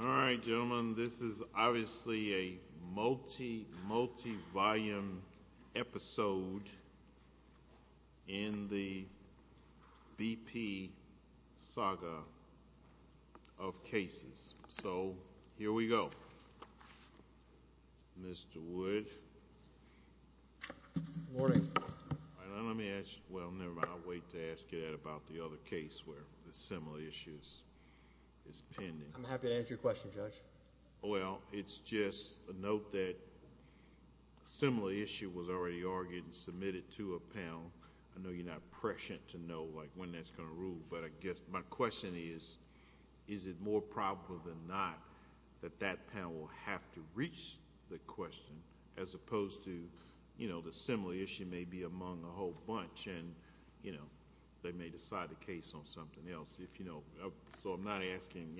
Alright, gentlemen, this is obviously a multi-volume episode in the BP saga of cases. So here we go. Mr. Wood. Good morning. Let me ask you... well, never mind. I'll wait to ask you that about the other case where the similar issue is pending. I'm happy to answer your question, Judge. Well, it's just a note that a similar issue was already argued and submitted to a panel. I know you're not prescient to know when that's going to rule, but I guess my question is, is it more probable than not that that panel will have to reach the question, as opposed to the similar issue may be among a whole bunch and they may decide the case on something else. So I'm not asking...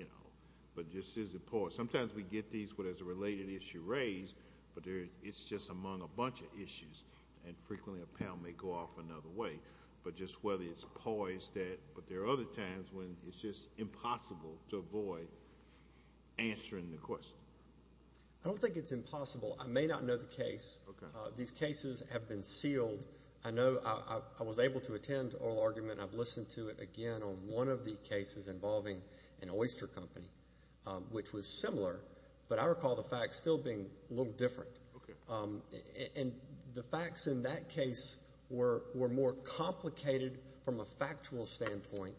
but just is it poised? Sometimes we get these where there's a related issue raised, but it's just among a bunch of issues, and frequently a panel may go off another way. But just whether it's poised that... but there are other times when it's just impossible to avoid answering the question. I don't think it's impossible. I may not know the case. These cases have been sealed. I know I was able to attend oral argument. I've listened to it again on one of the cases involving an oyster company, which was similar, but I recall the facts still being a little different. And the facts in that case were more complicated from a factual standpoint,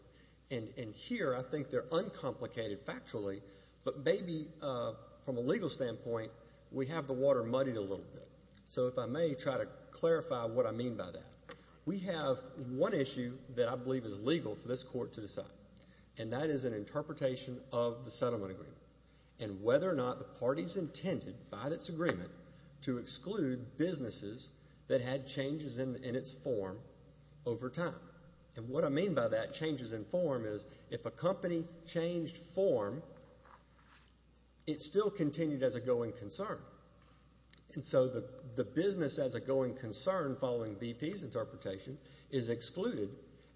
and here I think they're uncomplicated factually, but maybe from a legal standpoint, we have the water muddied a little bit. So if I may try to clarify what I mean by that. We have one issue that I believe is legal for this court to decide, and that is an interpretation of the settlement agreement, and whether or not the parties intended by this agreement to exclude businesses that had changes in its form over time. And what I mean by that, changes in form, is if a company changed form, it still continued as a going concern. And so the business as a going concern, following BP's interpretation, is excluded,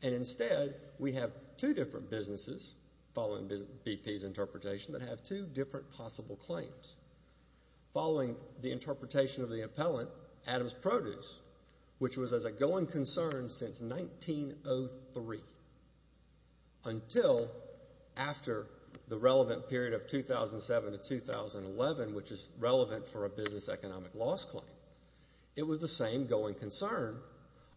and instead we have two different businesses, following BP's interpretation, that have two different possible claims. Following the interpretation of the appellant, Adams Produce, which was as a going concern since 1903, until after the relevant period of 2007 to 2011, which is relevant for a business economic loss claim, it was the same going concern,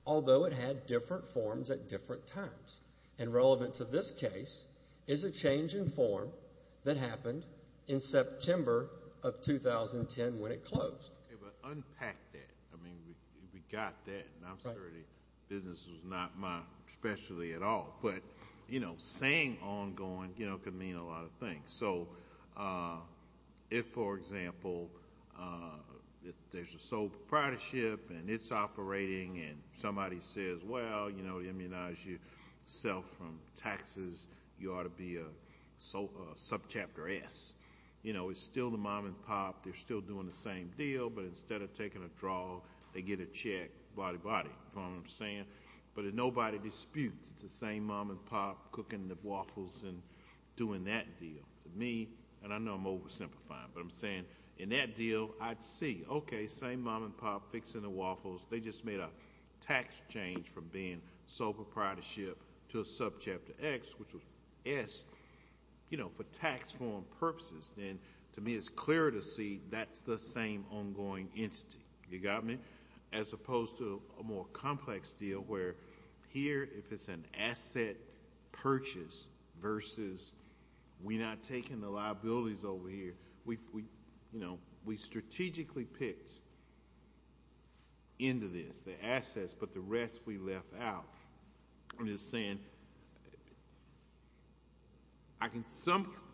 although it had different forms at the time. So the case is a change in form that happened in September of 2010, when it closed. Okay, but unpack that. I mean, we got that, and I'm sure the business was not my specialty at all. But, you know, saying ongoing, you know, could mean a lot of things. So if, for example, there's a sole proprietorship, and it's operating, and somebody says, well, you can't ammunize yourself from taxes, you ought to be a subchapter S. You know, it's still the mom and pop, they're still doing the same deal, but instead of taking a draw, they get a check, body, body, you know what I'm saying? But nobody disputes, it's the same mom and pop cooking the waffles and doing that deal. To me, and I know I'm oversimplifying, but I'm saying, in that deal, I'd see, okay, same mom and pop fixing the waffles, they just made a tax change from being sole proprietorship to a subchapter X, which was S, you know, for tax form purposes. And to me, it's clear to see that's the same ongoing entity, you got me? As opposed to a more complex deal, where here, if it's an asset purchase versus we're not taking the liabilities over here, you know, we strategically picked into this the assets, but the rest we left out. I'm just saying,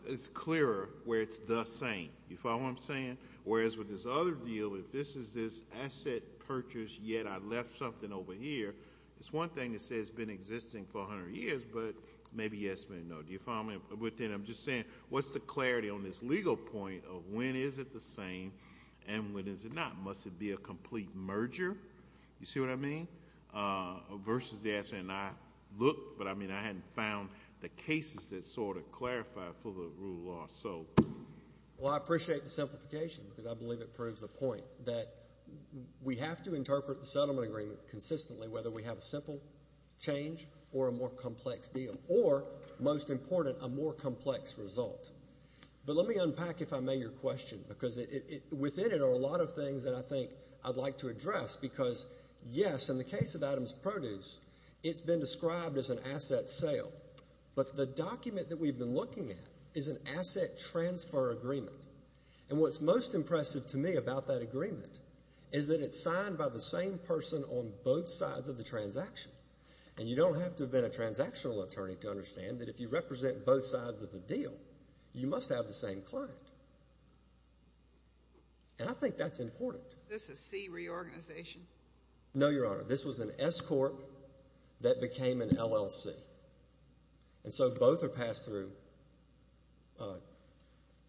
it's clearer where it's the same, you follow what I'm saying? Whereas with this other deal, if this is this asset purchase, yet I left something over here, it's one thing to say it's been existing for 100 years, but maybe yes, maybe no. Do you follow me? But then I'm just saying, what's the clarity on this legal point of when is it the same and when is it not? Must it be a complete merger? You see what I mean? Versus the asset, and I looked, but I mean, I hadn't found the cases that sort of clarify for the rule of law, so. Well, I appreciate the simplification, because I believe it proves the point that we have to interpret the settlement agreement consistently, whether we have a simple change or a more most important, a more complex result. But let me unpack, if I may, your question, because within it are a lot of things that I think I'd like to address, because yes, in the case of Adams Produce, it's been described as an asset sale, but the document that we've been looking at is an asset transfer agreement, and what's most impressive to me about that agreement is that it's signed by the same person on both sides of the transaction, and you don't have to have been a transactional attorney to understand that if you represent both sides of the deal, you must have the same client, and I think that's important. Is this a C reorganization? No, Your Honor. This was an S-corp that became an LLC, and so both are passed through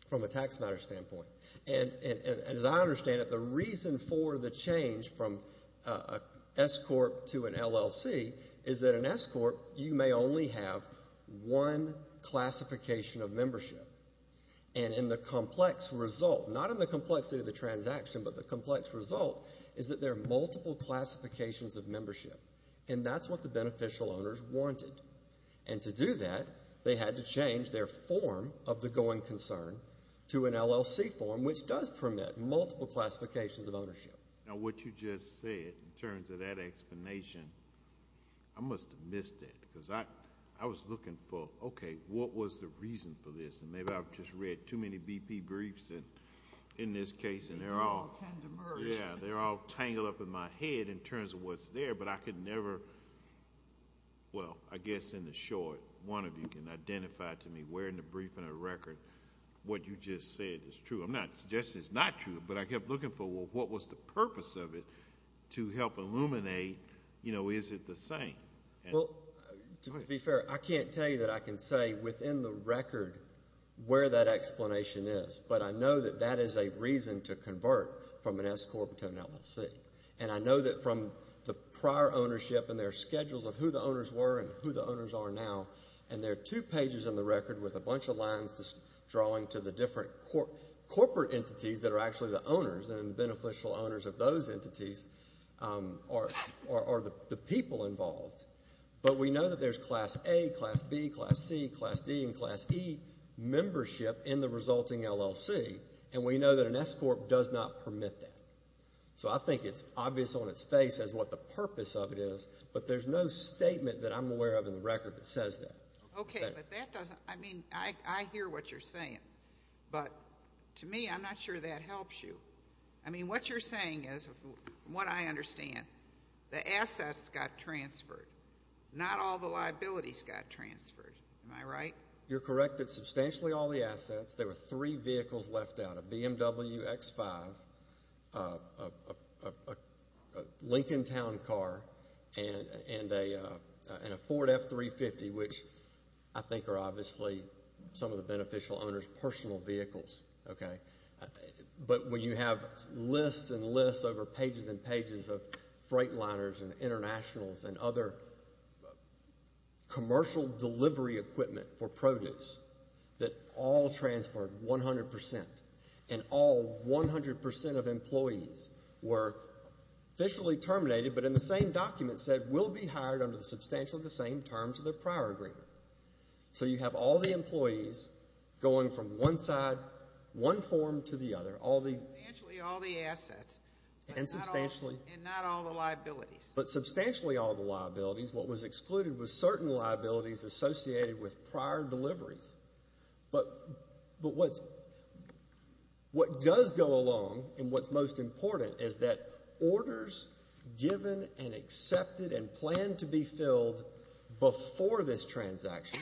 from a tax matter standpoint, and as I understand it, the reason for the change from an S-corp to an LLC is that an S-corp, you may only have one classification of membership, and in the complex result, not in the complexity of the transaction, but the complex result is that there are multiple classifications of membership, and that's what the beneficial owners wanted, and to do that, they had to change their form of the going concern to an LLC form, which does permit multiple classifications of ownership. Now, what you just said in terms of that explanation, I must have missed it because I was looking for, okay, what was the reason for this, and maybe I've just read too many BP briefs in this case, and they're all tangled up in my head in terms of what's there, but I could never... well, I guess in the short, one of you can identify to me where in the briefing or record what you just said is true. I'm not suggesting it's not true, but I kept looking for, well, what was the purpose of it to help illuminate, you know, is it the same? Well, to be fair, I can't tell you that I can say within the record where that explanation is, but I know that that is a reason to convert from an S-corp to an LLC, and I know that from the prior ownership and their schedules of who the owners were and who the owners are now, and there are two pages in the record with a bunch of lines drawing to the different corporate entities that are actually the owners and the beneficial owners of those entities are the people involved, but we know that there's Class A, Class B, Class C, Class D, and Class E membership in the resulting LLC, and we know that an S-corp does not permit that. So I think it's obvious on its face as what the purpose of it is, but there's no statement that I'm aware of in the record that says that. Okay, but that doesn't, I mean, I hear what you're saying, but to me, I'm not sure that helps you. I mean, what you're saying is, from what I understand, the assets got transferred. Not all the liabilities got transferred. Am I right? You're correct that substantially all the assets, there were three vehicles left out, a BMW X5, a Lincolntown car, and a Ford F350, which I think are obviously some of the beneficial owners' personal vehicles, okay? But when you have lists and lists over pages and pages of freight liners and internationals and other commercial delivery equipment for produce that all transferred 100 percent and all 100 percent of employees were officially terminated but in the same document said will be hired under substantially the same terms of their prior agreement. So you have all the employees going from one side, one form to the other. Substantially all the assets. And substantially. And not all the liabilities. But substantially all the liabilities. What was excluded was certain liabilities associated with prior deliveries. But what does go along and what's most important is that orders given and accepted and planned to be filled before this transaction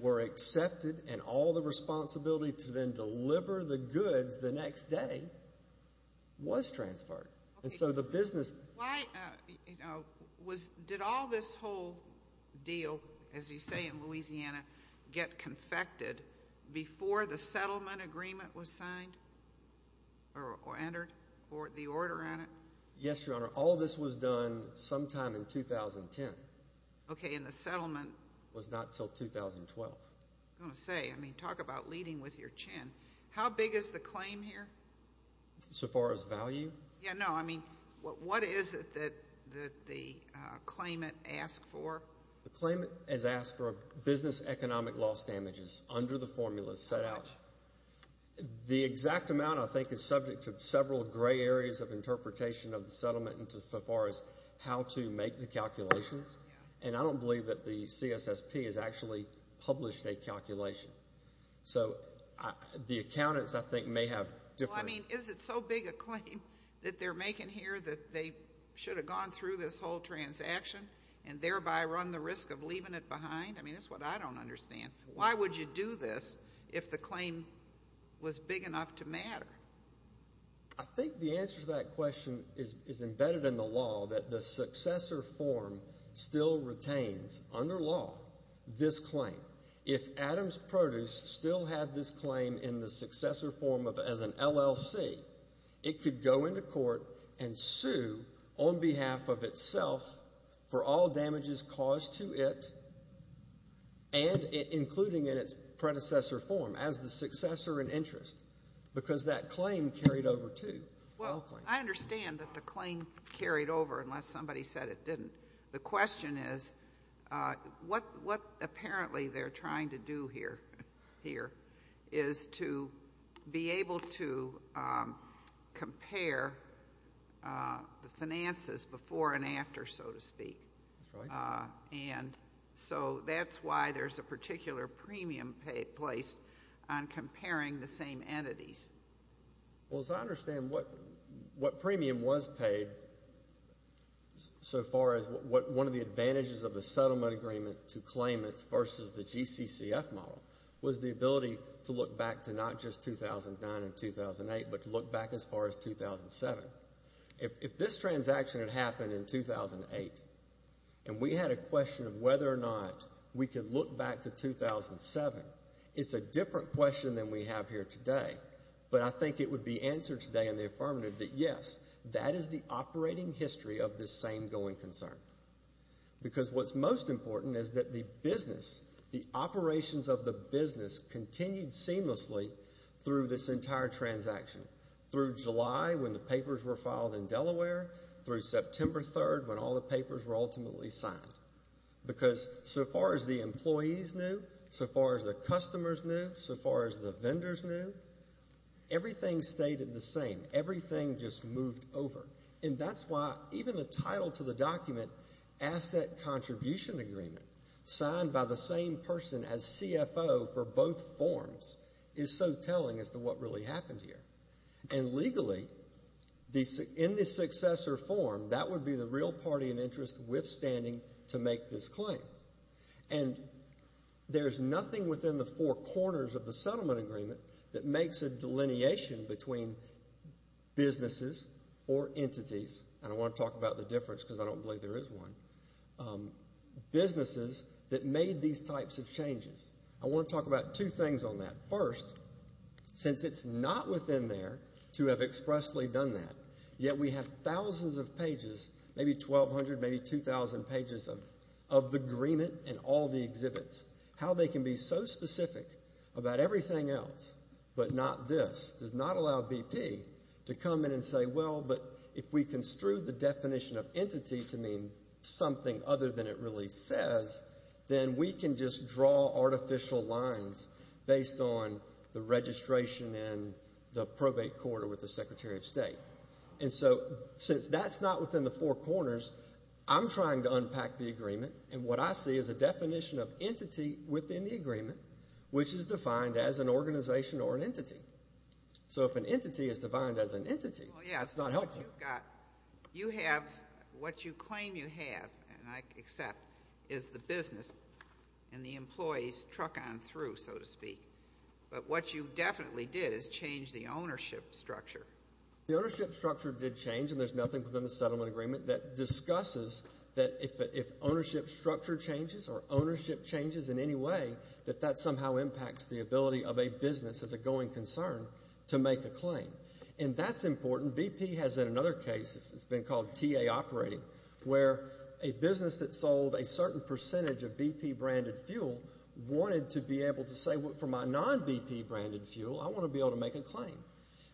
were accepted and all the responsibility to then deliver the goods the next day was transferred. And so the business Why, you know, did all this whole deal, as you say, in Louisiana, get confected before the settlement agreement was signed or entered or the order on it? Yes, Your Honor. All this was done sometime in 2010. Okay. And the settlement Was not until 2012. I was going to say, I mean, talk about leading with your chin. How big is the claim here? So far as value? Yeah, no, I mean, what is it that the claimant asked for? The claimant has asked for business economic loss damages under the formula set out. The exact amount, I think, is subject to several gray areas of interpretation of the settlement as far as how to make the calculations. And I don't believe that the CSSP has actually published a calculation. So the accountants, I think, may have different I mean, is it so big a claim that they're making here that they should have gone through this whole transaction and thereby run the risk of leaving it behind? I mean, that's what I don't understand. Why would you do this if the claim was big enough to matter? I think the answer to that question is embedded in the law that the successor form still retains, under law, this claim. If Adams Produce still had this claim in the successor form as an LLC, it could go into court and sue on behalf of itself for all damages caused to it, including in its predecessor form as the successor in interest, because that claim carried over, too. Well, I understand that the claim carried over unless somebody said it didn't. The question is what apparently they're trying to do here is to be able to compare the finances before and after, so to speak. And so that's why there's a particular premium placed on comparing the same entities. Well, as I understand, what premium was paid so far as one of the advantages of the settlement agreement to claim versus the GCCF model was the ability to look back to not just 2009 and 2008, but to look back as far as 2007. If this transaction had happened in 2008 and we had a question of whether or not we could look back to 2007, it's a different question than we have here today, but I think it would be answered today in the affirmative that, yes, that is the operating history of this same going concern, because what's most important is that the business, the operations of the business continued seamlessly through this entire transaction, through July when the papers were filed in Delaware, through September 3rd when all the papers were ultimately signed, because so far as the employees knew, so far as the customers knew, so far as the vendors knew, everything stayed the same. Everything just moved over. And that's why even the title to the document, Asset Contribution Agreement, signed by the same person as CFO for both forms, is so telling as to what really happened here. And legally, in the successor form, that would be the real party in interest withstanding to make this claim. And there's nothing within the four corners of the settlement agreement that makes a delineation between businesses or entities, and I want to talk about the difference because I don't believe there is one, businesses that made these types of changes. I want to talk about two things on that. First, since it's not within there to have expressly done that, yet we have thousands of pages, maybe 1,200, maybe 2,000 pages of the agreement and all the exhibits. How they can be so specific about everything else, but not this, does not allow BP to come in and say, well, but if we construe the definition of entity to mean something other than it really says, then we can just draw artificial lines based on the registration and the probate quarter with the Secretary of State. And so since that's not within the four corners, I'm trying to unpack the agreement, and what I see is a definition of entity within the agreement, which is defined as an organization or an entity. So if an entity is defined as an entity, that's not helpful. You have what you claim you have, and I accept, is the business and the employees truck on through, so to speak. But what you definitely did is change the ownership structure. The ownership structure did change, and there's nothing within the settlement agreement that discusses that if ownership structure changes or ownership changes in any way, that that somehow impacts the ability of a business as a going concern to make a claim. And that's important. BP has in another case, it's been called TA operating, where a business that sold a certain percentage of BP branded fuel wanted to be able to say, well, for my non-BP branded fuel, I want to be able to make a claim.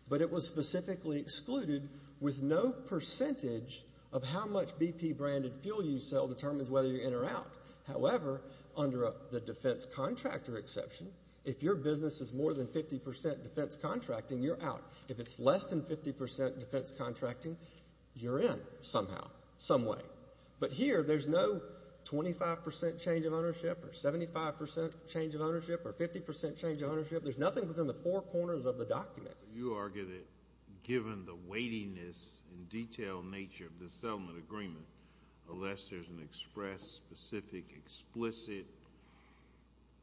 But it was specifically excluded with no percentage of how much BP branded fuel you sell determines whether you're in or out. However, under the defense contractor exception, if your business is more than 50% defense contracting, you're out. If it's less than 50% defense contracting, you're in somehow, some way. But here, there's no 25% change of ownership or 75% change of ownership or 50% change of ownership. There's nothing within the four corners of the document. So you argue that given the weightiness and detailed nature of the settlement agreement, unless there's an express, specific, explicit,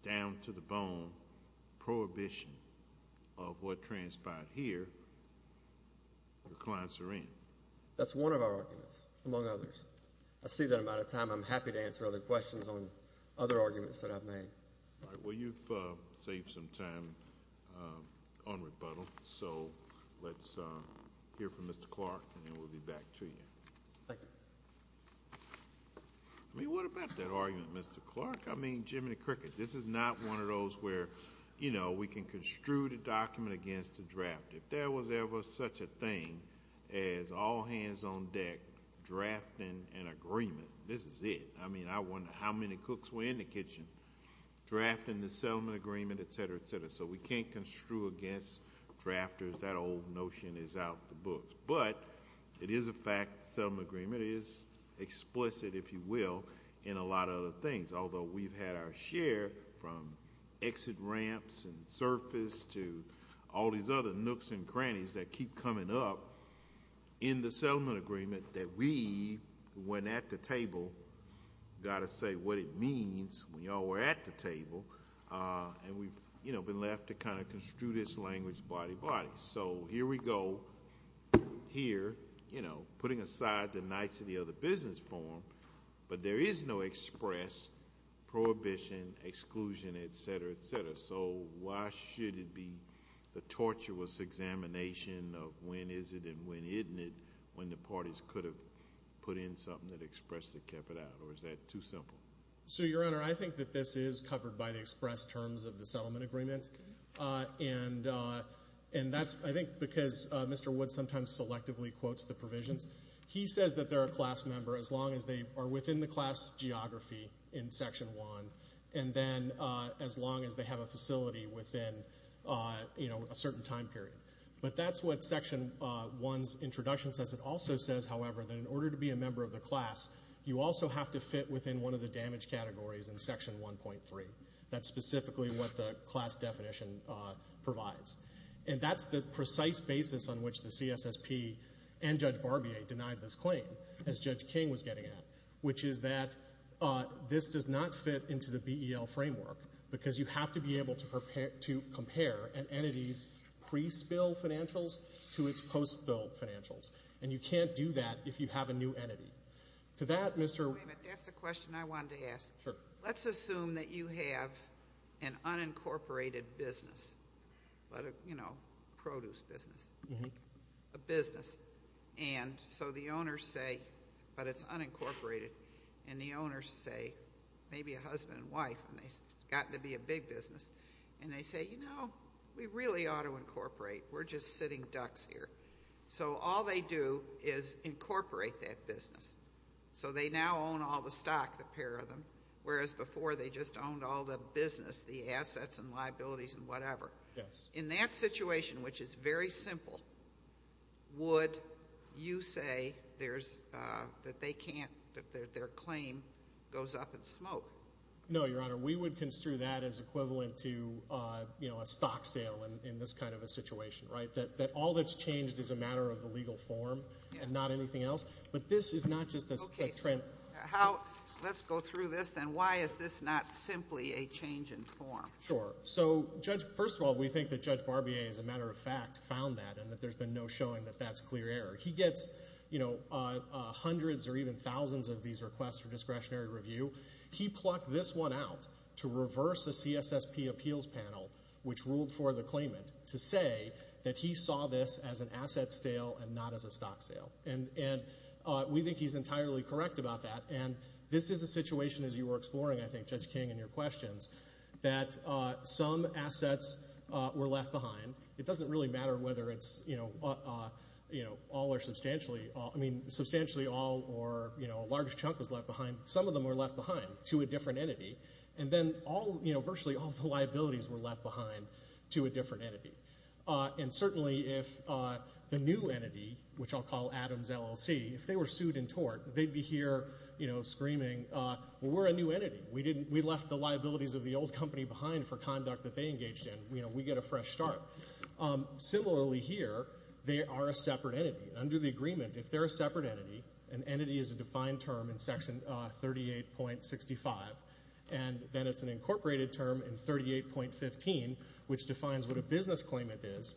down-to-the-bone prohibition of what transpired here, the clients are in. That's one of our arguments, among others. I see that I'm out of time. I'm happy to answer other questions on other arguments that I've made. All right. Well, you've saved some time on rebuttal. So let's hear from Mr. Clark, and then we'll be back to you. Thank you. I mean, what about that argument, Mr. Clark? I mean, Jiminy Cricket, this is not one of those where, you know, we can construe the document against the draft. If there was ever such a thing as all hands on deck drafting an agreement, this is it. I mean, I wonder how many cooks were in the kitchen drafting the settlement agreement, et cetera, et cetera. So we can't construe against drafters. That old notion is out of the books. But it is a fact the settlement agreement is explicit, if you will, in a lot of other things, although we've had our share from exit ramps and surface to all these other nooks and crannies that keep coming up in the settlement agreement that we, when at the table, got to say what it means when y'all were at the table. And we've, you know, been left to kind of construe this language body-by-body. So here we go, here, you know, putting aside the nicety of the business form, but there is no express prohibition, exclusion, et cetera, et cetera. So why should it be the tortuous examination of when is it and when isn't it when the parties could have put in something that expressly kept it out, or is that too simple? So, Your Honor, I think that this is covered by the express terms of the settlement agreement. And that's, I think, because Mr. Woods sometimes selectively quotes the provisions. He says that they're a class member as long as they are within the class geography in Section 1 and then as long as they have a facility within, you know, a certain time period. But that's what Section 1's introduction says. It also says, however, that in order to be a member of the class, you also have to fit within one of the damage categories in Section 1.3. That's specifically what the class definition provides. And that's the precise basis on which the CSSP and Judge Barbier denied this claim, as Judge King was getting at, which is that this does not fit into the BEL framework because you have to be able to compare an entity's pre-spill financials to its post-spill financials. And you can't do that if you have a new entity. To that, Mr. ---- Wait a minute. That's the question I wanted to ask. Sure. Let's assume that you have an unincorporated business, but, you know, a produce business, a business. And so the owners say, but it's unincorporated. And the owners say, maybe a husband and wife, and it's got to be a big business. And they say, you know, we really ought to incorporate. We're just sitting ducks here. So all they do is incorporate that business. So they now own all the stock, the pair of them, whereas before they just owned all the business, the assets and liabilities and whatever. Yes. In that situation, which is very simple, would you say that they can't, that their claim goes up in smoke? No, Your Honor. We would construe that as equivalent to, you know, a stock sale in this kind of a situation, right, that all that's changed is a matter of the legal form and not anything else. But this is not just a trend. Okay. Let's go through this, then. Why is this not simply a change in form? Sure. So, Judge, first of all, we think that Judge Barbier, as a matter of fact, found that and that there's been no showing that that's clear error. He gets, you know, hundreds or even thousands of these requests for discretionary review. He plucked this one out to reverse a CSSP appeals panel, which ruled for the claimant, to say that he saw this as an asset sale and not as a stock sale. And we think he's entirely correct about that. And this is a situation, as you were exploring, I think, Judge King, in your questions, that some assets were left behind. It doesn't really matter whether it's, you know, all or substantially. I mean, substantially all or, you know, a large chunk was left behind. Some of them were left behind to a different entity. And then all, you know, virtually all the liabilities were left behind to a different entity. And certainly if the new entity, which I'll call Adams LLC, if they were sued and tort, they'd be here, you know, screaming, well, we're a new entity. We left the liabilities of the old company behind for conduct that they engaged in. You know, we get a fresh start. Similarly here, they are a separate entity. Under the agreement, if they're a separate entity, an entity is a defined term in Section 38.65, and then it's an incorporated term in 38.15, which defines what a business claimant is.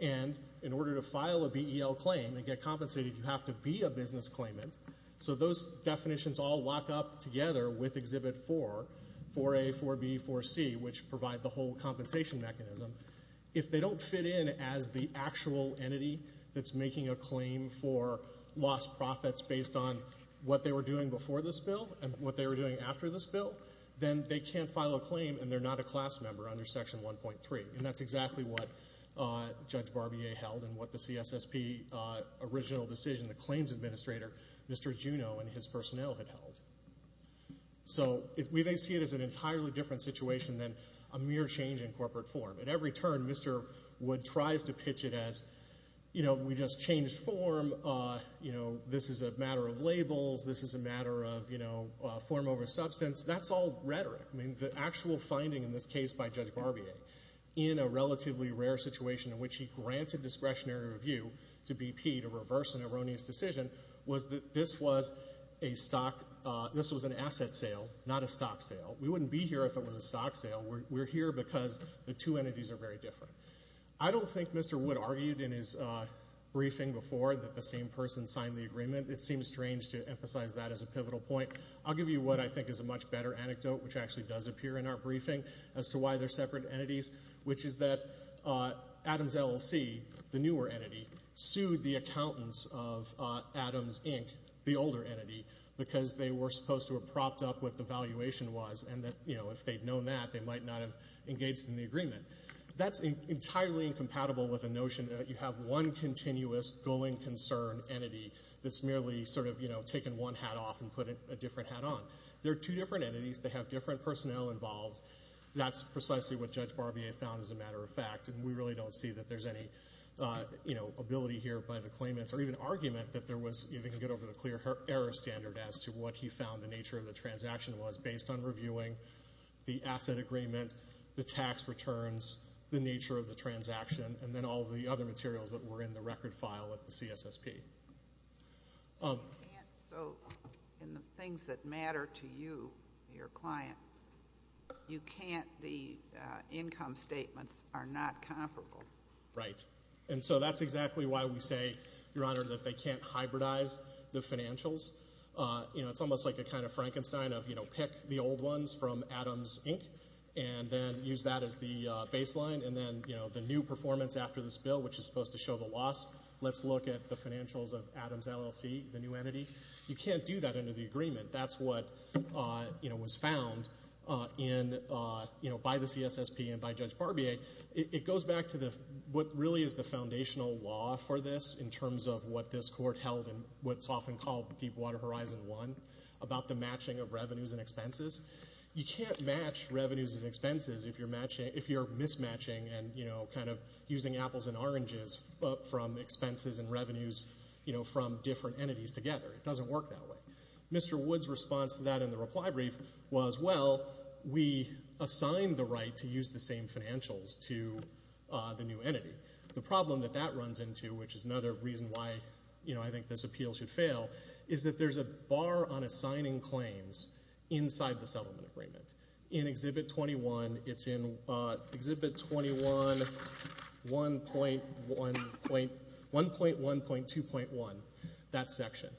And in order to file a BEL claim and get compensated, you have to be a business claimant. So those definitions all lock up together with Exhibit 4, 4A, 4B, 4C, which provide the whole compensation mechanism. If they don't fit in as the actual entity that's making a claim for lost profits based on what they were doing before this bill and what they were doing after this bill, then they can't file a claim and they're not a class member under Section 1.3. And that's exactly what Judge Barbier held and what the CSSP original decision, the claims administrator, Mr. Juno, and his personnel had held. So we may see it as an entirely different situation than a mere change in corporate form. At every turn, Mr. Wood tries to pitch it as, you know, we just changed form. You know, this is a matter of labels. This is a matter of, you know, form over substance. That's all rhetoric. I mean, the actual finding in this case by Judge Barbier, in a relatively rare situation in which he granted discretionary review to BP to reverse an erroneous decision, was that this was an asset sale, not a stock sale. We wouldn't be here if it was a stock sale. We're here because the two entities are very different. I don't think Mr. Wood argued in his briefing before that the same person signed the agreement. It seems strange to emphasize that as a pivotal point. I'll give you what I think is a much better anecdote, which actually does appear in our briefing as to why they're separate entities, which is that Adams LLC, the newer entity, sued the accountants of Adams, Inc., the older entity, because they were supposed to have propped up what the valuation was and that, you know, if they'd known that, they might not have engaged in the agreement. That's entirely incompatible with the notion that you have one continuous going concern entity that's merely sort of, you know, taking one hat off and putting a different hat on. They're two different entities. They have different personnel involved. That's precisely what Judge Barbier found as a matter of fact, and we really don't see that there's any, you know, ability here by the claimants or even argument that there was, you know, they can get over the clear error standard as to what he found the nature of the transaction was, based on reviewing the asset agreement, the tax returns, the nature of the transaction, and then all the other materials that were in the record file at the CSSP. So in the things that matter to you, your client, you can't be income statements are not comparable. Right. And so that's exactly why we say, Your Honor, that they can't hybridize the financials. You know, it's almost like a kind of Frankenstein of, you know, pick the old ones from Adams, Inc., and then use that as the baseline, and then, you know, the new performance after this bill, which is supposed to show the loss, let's look at the financials of Adams LLC, the new entity. You can't do that under the agreement. That's what, you know, was found in, you know, by the CSSP and by Judge Barbier. It goes back to what really is the foundational law for this in terms of what this court held in what's often called Deepwater Horizon 1 about the matching of revenues and expenses. You can't match revenues and expenses if you're mismatching and, you know, kind of using apples and oranges from expenses and revenues, you know, from different entities together. It doesn't work that way. Mr. Wood's response to that in the reply brief was, well, we assigned the right to use the same financials to the new entity. The problem that that runs into, which is another reason why, you know, I think this appeal should fail, is that there's a bar on assigning claims inside the settlement agreement. In Exhibit 21, it's in Exhibit 21, 1.1.2.1, that section.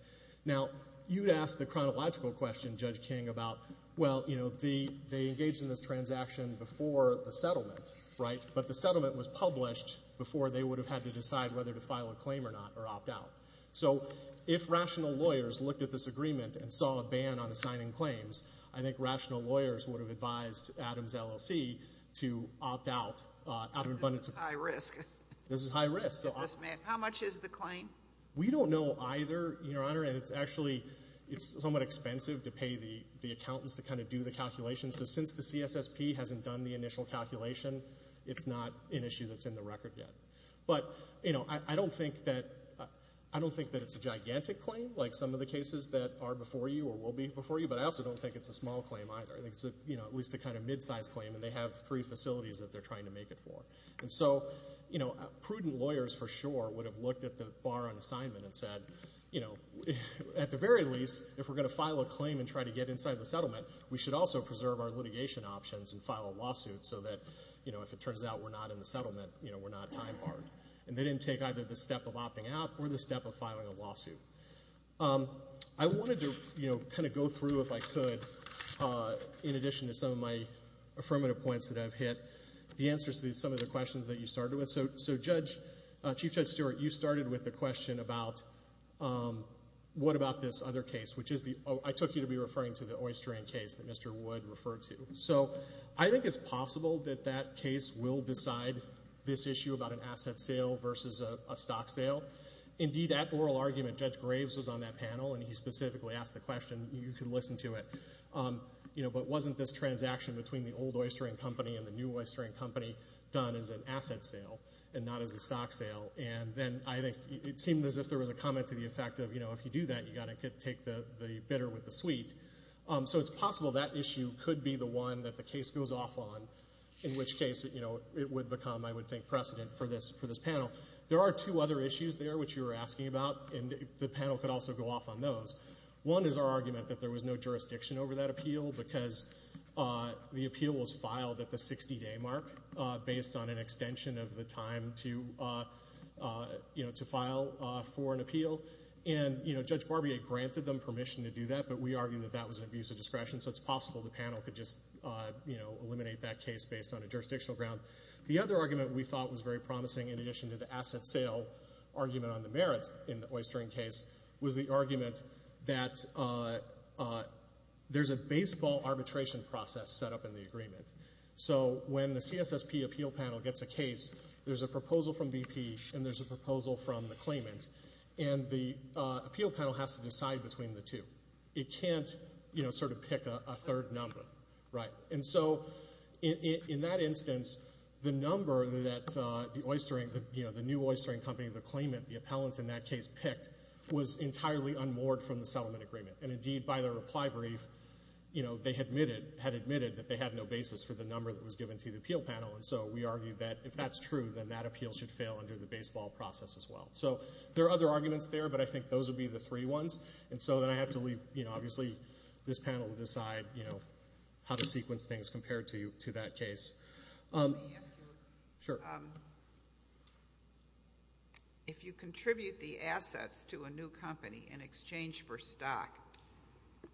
Now, you'd ask the chronological question, Judge King, about, well, you know, they engaged in this transaction before the settlement, right? But the settlement was published before they would have had to decide whether to file a claim or not or opt out. So if rational lawyers looked at this agreement and saw a ban on assigning claims, I think rational lawyers would have advised Adams LLC to opt out. This is high risk. This is high risk. How much is the claim? We don't know either, Your Honor, and it's actually somewhat expensive to pay the accountants to kind of do the calculations. So since the CSSP hasn't done the initial calculation, it's not an issue that's in the record yet. But, you know, I don't think that it's a gigantic claim like some of the cases that are before you or will be before you, but I also don't think it's a small claim either. I think it's at least a kind of mid-sized claim, and they have three facilities that they're trying to make it for. And so, you know, prudent lawyers for sure would have looked at the bar on assignment and said, you know, at the very least, if we're going to file a claim and try to get inside the settlement, we should also preserve our litigation options and file a lawsuit so that, you know, if it turns out we're not in the settlement, you know, we're not time barred. And they didn't take either the step of opting out or the step of filing a lawsuit. I wanted to, you know, kind of go through, if I could, in addition to some of my affirmative points that I've hit, the answers to some of the questions that you started with. So, Judge, Chief Judge Stewart, you started with the question about what about this other case, which I took you to be referring to the Oystering case that Mr. Wood referred to. So I think it's possible that that case will decide this issue about an asset sale versus a stock sale. Indeed, that oral argument, Judge Graves was on that panel, and he specifically asked the question. You could listen to it. You know, but wasn't this transaction between the old Oystering company and the new Oystering company done as an asset sale and not as a stock sale? And then I think it seemed as if there was a comment to the effect of, you know, if you do that, you've got to take the bitter with the sweet. So it's possible that issue could be the one that the case goes off on, in which case it would become, I would think, precedent for this panel. There are two other issues there, which you were asking about, and the panel could also go off on those. One is our argument that there was no jurisdiction over that appeal because the appeal was filed at the 60-day mark based on an extension of the time to file for an appeal. And, you know, Judge Barbier granted them permission to do that, but we argue that that was an abuse of discretion, so it's possible the panel could just, you know, eliminate that case based on a jurisdictional ground. The other argument we thought was very promising, in addition to the asset sale argument on the merits in the Oystering case, was the argument that there's a baseball arbitration process set up in the agreement. So when the CSSP appeal panel gets a case, there's a proposal from BP and there's a proposal from the claimant, and the appeal panel has to decide between the two. It can't, you know, sort of pick a third number, right? And so in that instance, the number that the Oystering, you know, the new Oystering company, the claimant, the appellant in that case picked, was entirely unmoored from the settlement agreement. And, indeed, by their reply brief, you know, they had admitted that they had no basis for the number that was given to the appeal panel, and so we argue that if that's true, then that appeal should fail under the baseball process as well. So there are other arguments there, but I think those would be the three ones. And so then I have to leave, you know, obviously this panel to decide, you know, how to sequence things compared to that case. Let me ask you a question. Sure. If you contribute the assets to a new company in exchange for stock,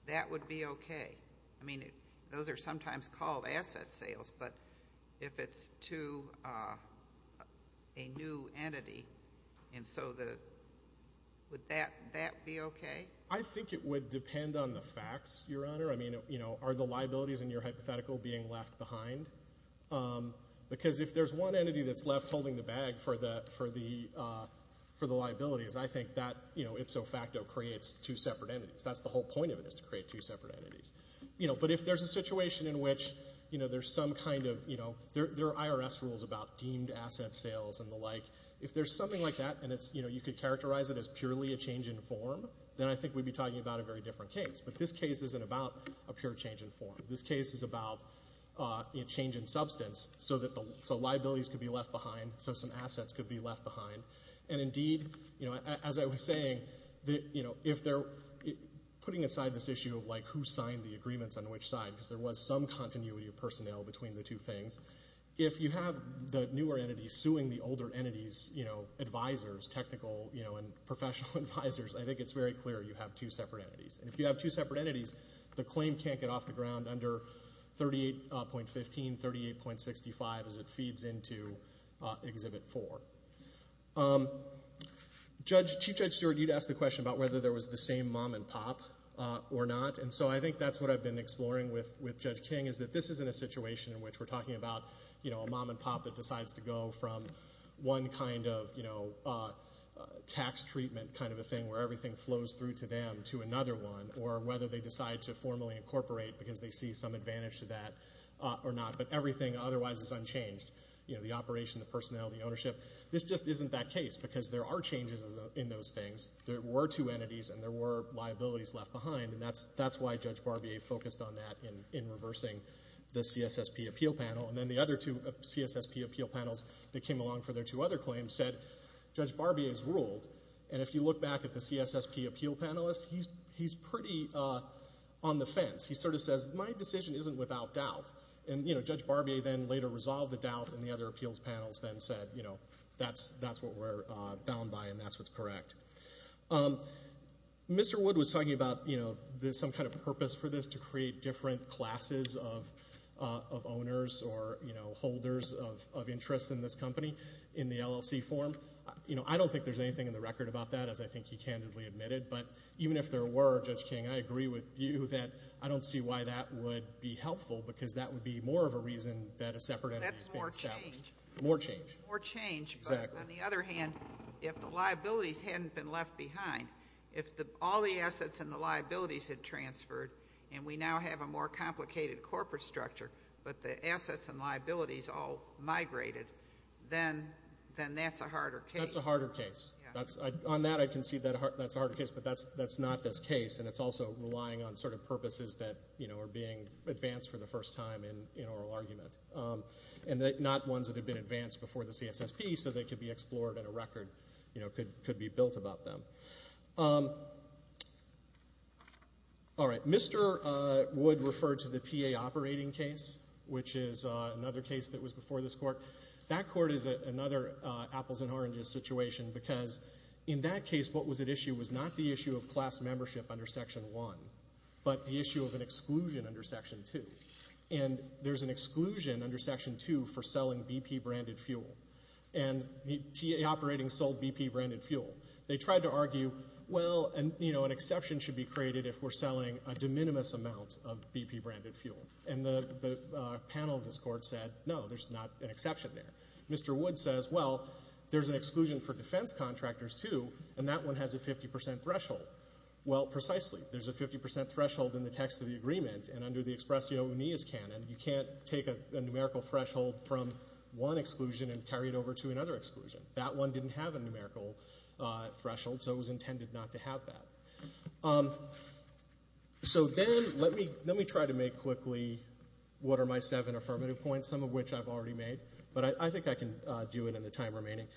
that would be okay. I mean, those are sometimes called asset sales, but if it's to a new entity, and so would that be okay? I think it would depend on the facts, Your Honor. I mean, you know, are the liabilities in your hypothetical being left behind? Because if there's one entity that's left holding the bag for the liabilities, I think that, you know, ipso facto creates two separate entities. That's the whole point of it is to create two separate entities. You know, but if there's a situation in which, you know, there's some kind of, you know, there are IRS rules about deemed asset sales and the like. If there's something like that and it's, you know, you could characterize it as purely a change in form, then I think we'd be talking about a very different case. But this case isn't about a pure change in form. This case is about a change in substance so liabilities could be left behind, so some assets could be left behind. And indeed, you know, as I was saying, you know, if they're putting aside this issue of, like, who signed the agreements on which side because there was some continuity of personnel between the two things. If you have the newer entity suing the older entity's, you know, advisors, technical, you know, and professional advisors, I think it's very clear you have two separate entities. And if you have two separate entities, the claim can't get off the ground under 38.15, 38.65, as it feeds into Exhibit 4. Chief Judge Stewart, you'd asked the question about whether there was the same mom and pop or not, and so I think that's what I've been exploring with Judge King, is that this isn't a situation in which we're talking about, you know, a mom and pop that decides to go from one kind of, you know, tax treatment kind of a thing where everything flows through to them to another one, or whether they decide to formally incorporate because they see some advantage to that or not. But everything otherwise is unchanged, you know, the operation, the personnel, the ownership. This just isn't that case because there are changes in those things. There were two entities, and there were liabilities left behind, and that's why Judge Barbier focused on that in reversing the CSSP appeal panel. And then the other two CSSP appeal panels that came along for their two other claims said, Judge Barbier's ruled, and if you look back at the CSSP appeal panelists, he's pretty on the fence. He sort of says, my decision isn't without doubt. And, you know, Judge Barbier then later resolved the doubt, and the other appeals panels then said, you know, that's what we're bound by, and that's what's correct. Mr. Wood was talking about, you know, some kind of purpose for this to create different classes of owners or, you know, holders of interest in this company in the LLC form. You know, I don't think there's anything in the record about that, as I think he candidly admitted, but even if there were, Judge King, I agree with you that I don't see why that would be helpful because that would be more of a reason that a separate entity is being established. That's more change. More change. More change. Exactly. On the other hand, if the liabilities hadn't been left behind, if all the assets and the liabilities had transferred, and we now have a more complicated corporate structure, but the assets and liabilities all migrated, then that's a harder case. That's a harder case. On that, I can see that's a harder case, but that's not this case, and it's also relying on sort of purposes that, you know, are being advanced for the first time in oral argument, and not ones that have been advanced before the CSSP so they could be explored in a record, you know, could be built about them. All right. Mr. Wood referred to the TA operating case, which is another case that was before this court. That court is another apples and oranges situation because in that case, what was at issue was not the issue of class membership under Section 1, but the issue of an exclusion under Section 2, and there's an exclusion under Section 2 for selling BP-branded fuel, and the TA operating sold BP-branded fuel. They tried to argue, well, you know, an exception should be created if we're selling a de minimis amount of BP-branded fuel, and the panel of this court said, no, there's not an exception there. Mr. Wood says, well, there's an exclusion for defense contractors, too, and that one has a 50% threshold. Well, precisely. There's a 50% threshold in the text of the agreement, and under the Expresso Unis canon, you can't take a numerical threshold from one exclusion and carry it over to another exclusion. That one didn't have a numerical threshold, so it was intended not to have that. So then let me try to make quickly what are my seven affirmative points, some of which I've already made, but I think I can do it in the time remaining.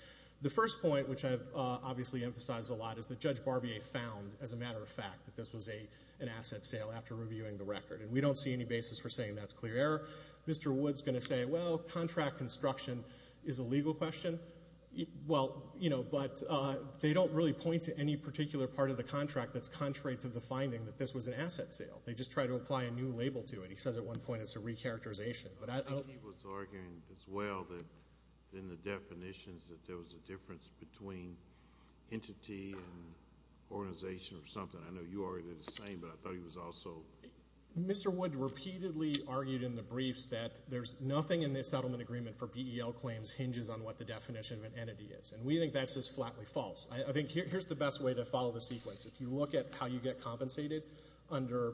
The first point, which I've obviously emphasized a lot, is that Judge Barbier found, as a matter of fact, that this was an asset sale after reviewing the record, and we don't see any basis for saying that's clear error. Mr. Wood's going to say, well, contract construction is a legal question. Well, you know, but they don't really point to any particular part of the contract that's contrary to the finding that this was an asset sale. They just try to apply a new label to it. He says at one point it's a recharacterization. He was arguing as well that in the definitions that there was a difference between entity and organization or something. I know you argued it the same, but I thought he was also. Mr. Wood repeatedly argued in the briefs that there's nothing in the settlement agreement for BEL claims hinges on what the definition of an entity is, and we think that's just flatly false. I think here's the best way to follow the sequence. If you look at how you get compensated under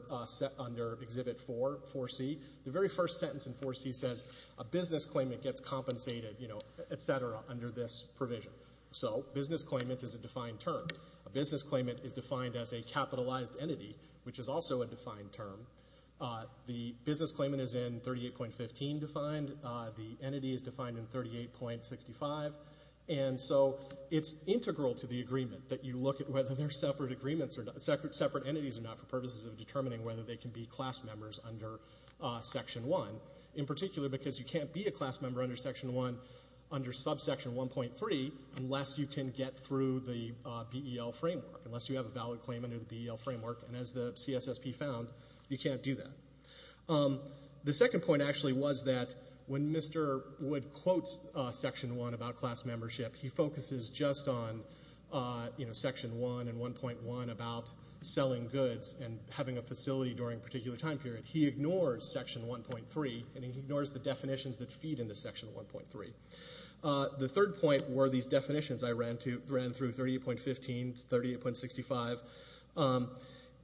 Exhibit 4, 4C, the very first sentence in 4C says a business claimant gets compensated, you know, et cetera, under this provision. So business claimant is a defined term. A business claimant is defined as a capitalized entity, which is also a defined term. The business claimant is in 38.15 defined. The entity is defined in 38.65. And so it's integral to the agreement that you look at whether they're separate entities or not for purposes of determining whether they can be class members under Section 1, in particular because you can't be a class member under Section 1 under subsection 1.3 unless you can get through the BEL framework, unless you have a valid claim under the BEL framework. And as the CSSP found, you can't do that. The second point actually was that when Mr. Wood quotes Section 1 about class membership, he focuses just on Section 1 and 1.1 about selling goods and having a facility during a particular time period. He ignores Section 1.3, and he ignores the definitions that feed into Section 1.3. The third point were these definitions I ran through, 38.15 to 38.65.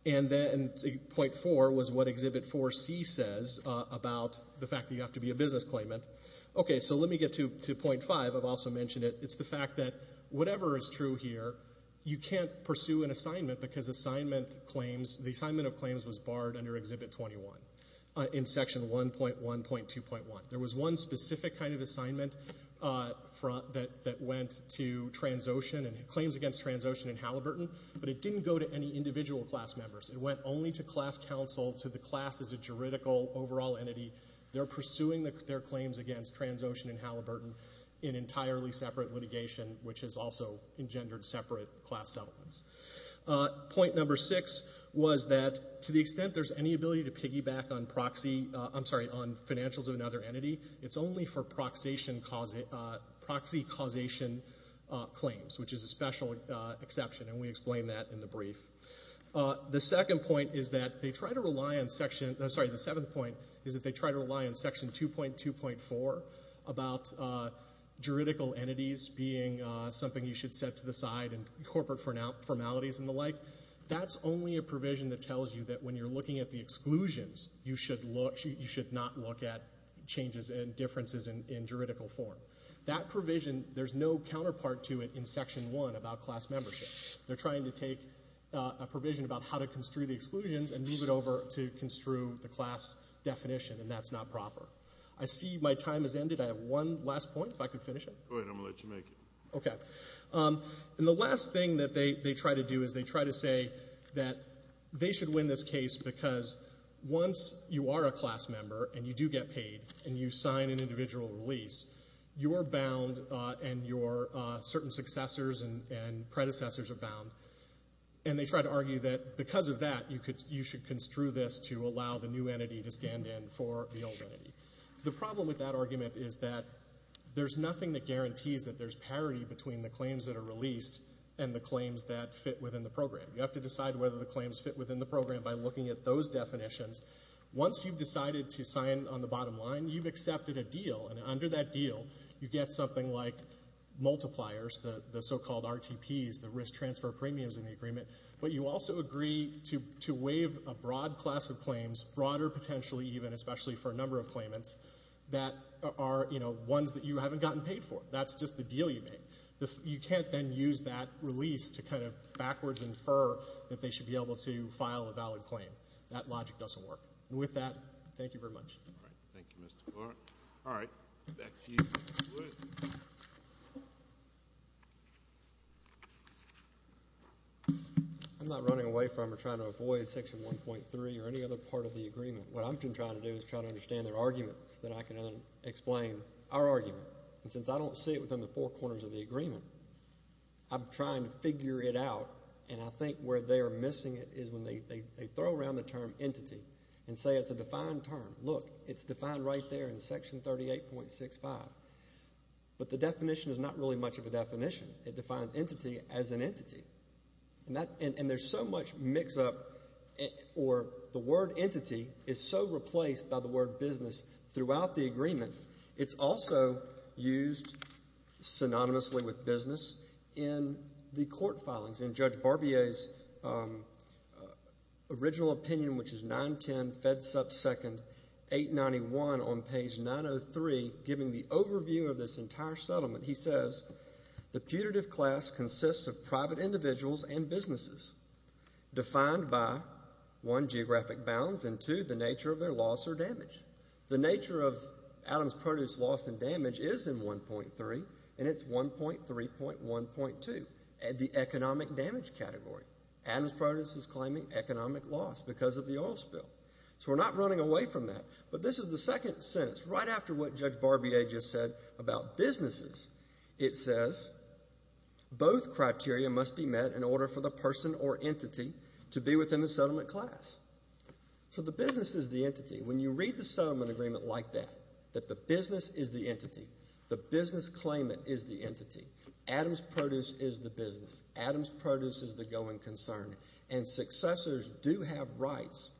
And then point four was what Exhibit 4C says about the fact that you have to be a business claimant. Okay, so let me get to point five. I've also mentioned it. It's the fact that whatever is true here, you can't pursue an assignment because the assignment of claims was barred under Exhibit 21 in Section 1.1.2.1. There was one specific kind of assignment that went to claims against Transocean in Halliburton, but it didn't go to any individual class members. It went only to class counsel, to the class as a juridical overall entity. They're pursuing their claims against Transocean in Halliburton in entirely separate litigation, which has also engendered separate class settlements. Point number six was that to the extent there's any ability to piggyback on proxy— I'm sorry, on financials of another entity, it's only for proxy causation claims, which is a special exception. And we explained that in the brief. The second point is that they try to rely on Section— I'm sorry, the seventh point is that they try to rely on Section 2.2.4 about juridical entities being something you should set to the side and corporate formalities and the like. That's only a provision that tells you that when you're looking at the exclusions, you should not look at changes and differences in juridical form. That provision, there's no counterpart to it in Section 1 about class membership. They're trying to take a provision about how to construe the exclusions and move it over to construe the class definition, and that's not proper. I see my time has ended. I have one last point, if I could finish it. Go ahead. I'm going to let you make it. Okay. And the last thing that they try to do is they try to say that they should win this case because once you are a class member and you do get paid and you sign an individual release, you're bound and your certain successors and predecessors are bound. And they try to argue that because of that, you should construe this to allow the new entity to stand in for the old entity. The problem with that argument is that there's nothing that guarantees that there's parity between the claims that are released and the claims that fit within the program. You have to decide whether the claims fit within the program by looking at those definitions. Once you've decided to sign on the bottom line, you've accepted a deal, and under that deal you get something like multipliers, the so-called RTPs, the risk transfer premiums in the agreement, but you also agree to waive a broad class of claims, broader potentially even, especially for a number of claimants, that are ones that you haven't gotten paid for. That's just the deal you made. You can't then use that release to kind of backwards infer that they should be able to file a valid claim. That logic doesn't work. And with that, thank you very much. All right. Thank you, Mr. Clark. All right. Back to you. Go ahead. I'm not running away from or trying to avoid Section 1.3 or any other part of the agreement. What I'm trying to do is try to understand their argument so that I can then explain our argument. And since I don't see it within the four corners of the agreement, I'm trying to figure it out, and I think where they are missing it is when they throw around the term entity and say it's a defined term. Look, it's defined right there in Section 38.65. But the definition is not really much of a definition. It defines entity as an entity. And there's so much mix-up, or the word entity is so replaced by the word business throughout the agreement, it's also used synonymously with business in the court filings. In Judge Barbier's original opinion, which is 910 Fed Sub Second 891 on page 903, giving the overview of this entire settlement, he says, the putative class consists of private individuals and businesses defined by, one, geographic bounds, and, two, the nature of their loss or damage. The nature of Adam's Produce loss and damage is in 1.3, and it's 1.3.1.2, the economic damage category. Adam's Produce is claiming economic loss because of the oil spill. So we're not running away from that, but this is the second sentence. Right after what Judge Barbier just said about businesses, it says, both criteria must be met in order for the person or entity to be within the settlement class. So the business is the entity. When you read the settlement agreement like that, that the business is the entity. The business claimant is the entity. Adam's Produce is the business. Adam's Produce is the going concern. And successors do have rights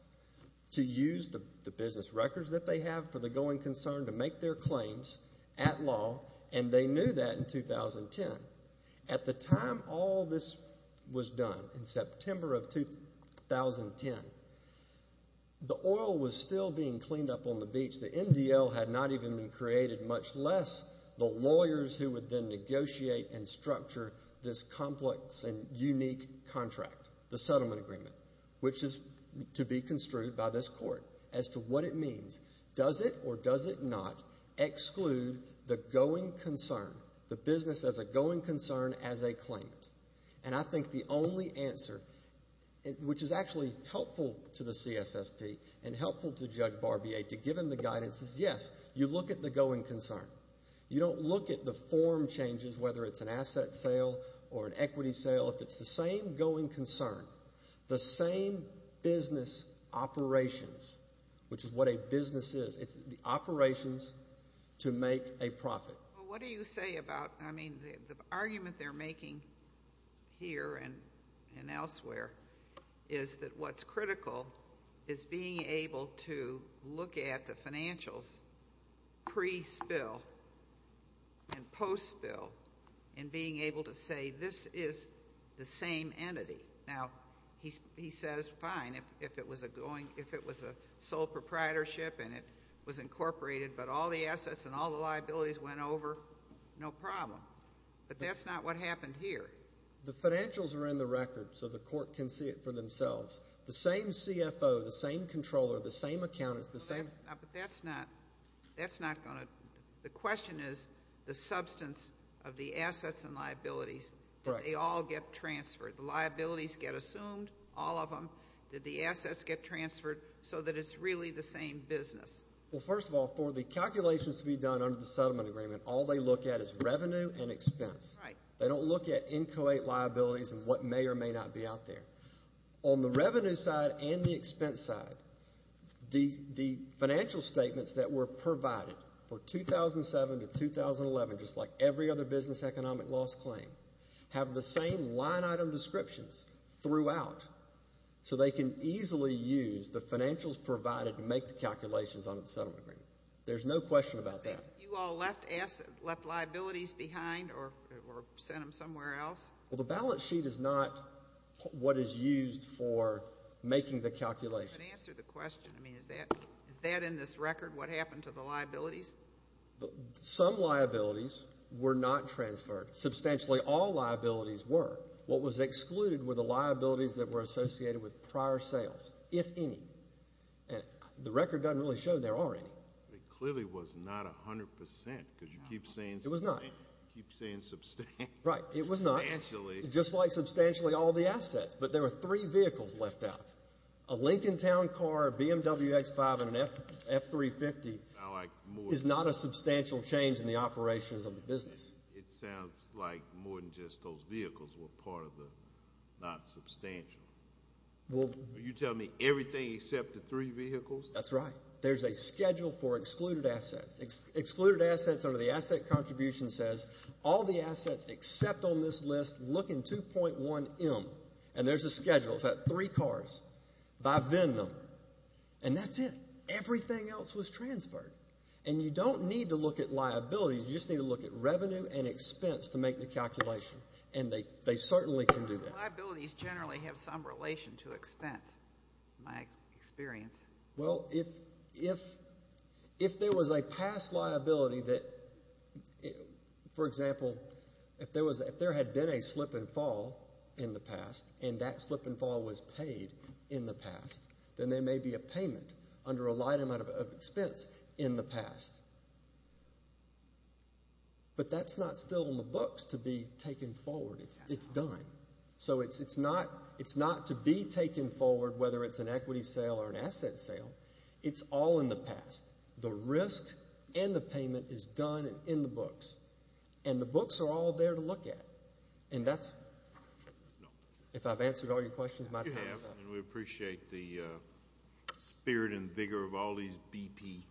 to use the business records that they have for the going concern to make their claims at law, and they knew that in 2010. At the time all this was done, in September of 2010, the oil was still being cleaned up on the beach. The MDL had not even been created, much less the lawyers who would then negotiate and structure this complex and unique contract, the settlement agreement, which is to be construed by this court as to what it means. Does it or does it not exclude the going concern, the business as a going concern as a claimant? And I think the only answer, which is actually helpful to the CSSP and helpful to Judge Barbier to give him the guidance, is yes, you look at the going concern. You don't look at the form changes, whether it's an asset sale or an equity sale. If it's the same going concern, the same business operations, which is what a business is, it's the operations to make a profit. Well, what do you say about, I mean, the argument they're making here and elsewhere is that what's critical is being able to look at the financials pre-spill and post-spill and being able to say this is the same entity. Now, he says, fine, if it was a sole proprietorship and it was incorporated, but all the assets and all the liabilities went over, no problem. But that's not what happened here. The financials are in the record, so the court can see it for themselves. The same CFO, the same controller, the same accountants, the same ---- But that's not going to ---- The question is the substance of the assets and liabilities. Did they all get transferred? The liabilities get assumed, all of them. Did the assets get transferred so that it's really the same business? Well, first of all, for the calculations to be done under the settlement agreement, all they look at is revenue and expense. They don't look at inchoate liabilities and what may or may not be out there. On the revenue side and the expense side, the financial statements that were provided for 2007 to 2011, just like every other business economic loss claim, have the same line item descriptions throughout, so they can easily use the financials provided to make the calculations on the settlement agreement. There's no question about that. You all left liabilities behind or sent them somewhere else? Well, the balance sheet is not what is used for making the calculations. To answer the question, I mean, is that in this record what happened to the liabilities? Some liabilities were not transferred. Substantially all liabilities were. What was excluded were the liabilities that were associated with prior sales, if any. The record doesn't really show there are any. It clearly was not 100 percent because you keep saying ---- It was not. You keep saying substantially. Right, it was not. Substantially. Just like substantially all the assets, but there were three vehicles left out. A Lincoln Town car, a BMW X5, and an F350 is not a substantial change in the operations of the business. It sounds like more than just those vehicles were part of the not substantial. Are you telling me everything except the three vehicles? That's right. There's a schedule for excluded assets. Excluded assets under the asset contribution says all the assets except on this list look in 2.1M. And there's a schedule. It's that three cars by VIN number. And that's it. Everything else was transferred. And you don't need to look at liabilities. You just need to look at revenue and expense to make the calculation. And they certainly can do that. Liabilities generally have some relation to expense, in my experience. Well, if there was a past liability that, for example, if there had been a slip and fall in the past and that slip and fall was paid in the past, then there may be a payment under a light amount of expense in the past. But that's not still in the books to be taken forward. It's done. So it's not to be taken forward, whether it's an equity sale or an asset sale. It's all in the past. The risk and the payment is done and in the books. And the books are all there to look at. And that's, if I've answered all your questions, my time is up. And we appreciate the spirit and vigor of all these BP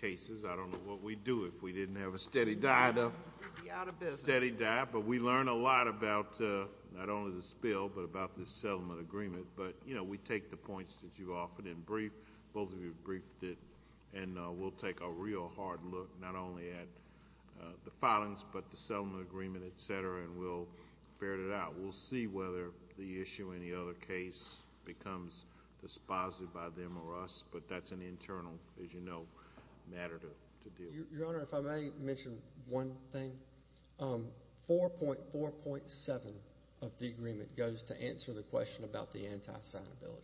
cases. I don't know what we'd do if we didn't have a steady diet of steady diet. But we learn a lot about not only the spill but about the settlement agreement. But, you know, we take the points that you offered in brief. Both of you briefed it. And we'll take a real hard look not only at the filings but the settlement agreement, et cetera, and we'll ferret it out. We'll see whether the issue in the other case becomes dispositive by them or us. But that's an internal, as you know, matter to deal with. Your Honor, if I may mention one thing, 4.7 of the agreement goes to answer the question about the anti-signability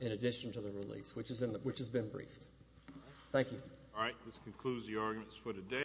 in addition to the release, which has been briefed. Thank you. All right. This concludes the arguments for today.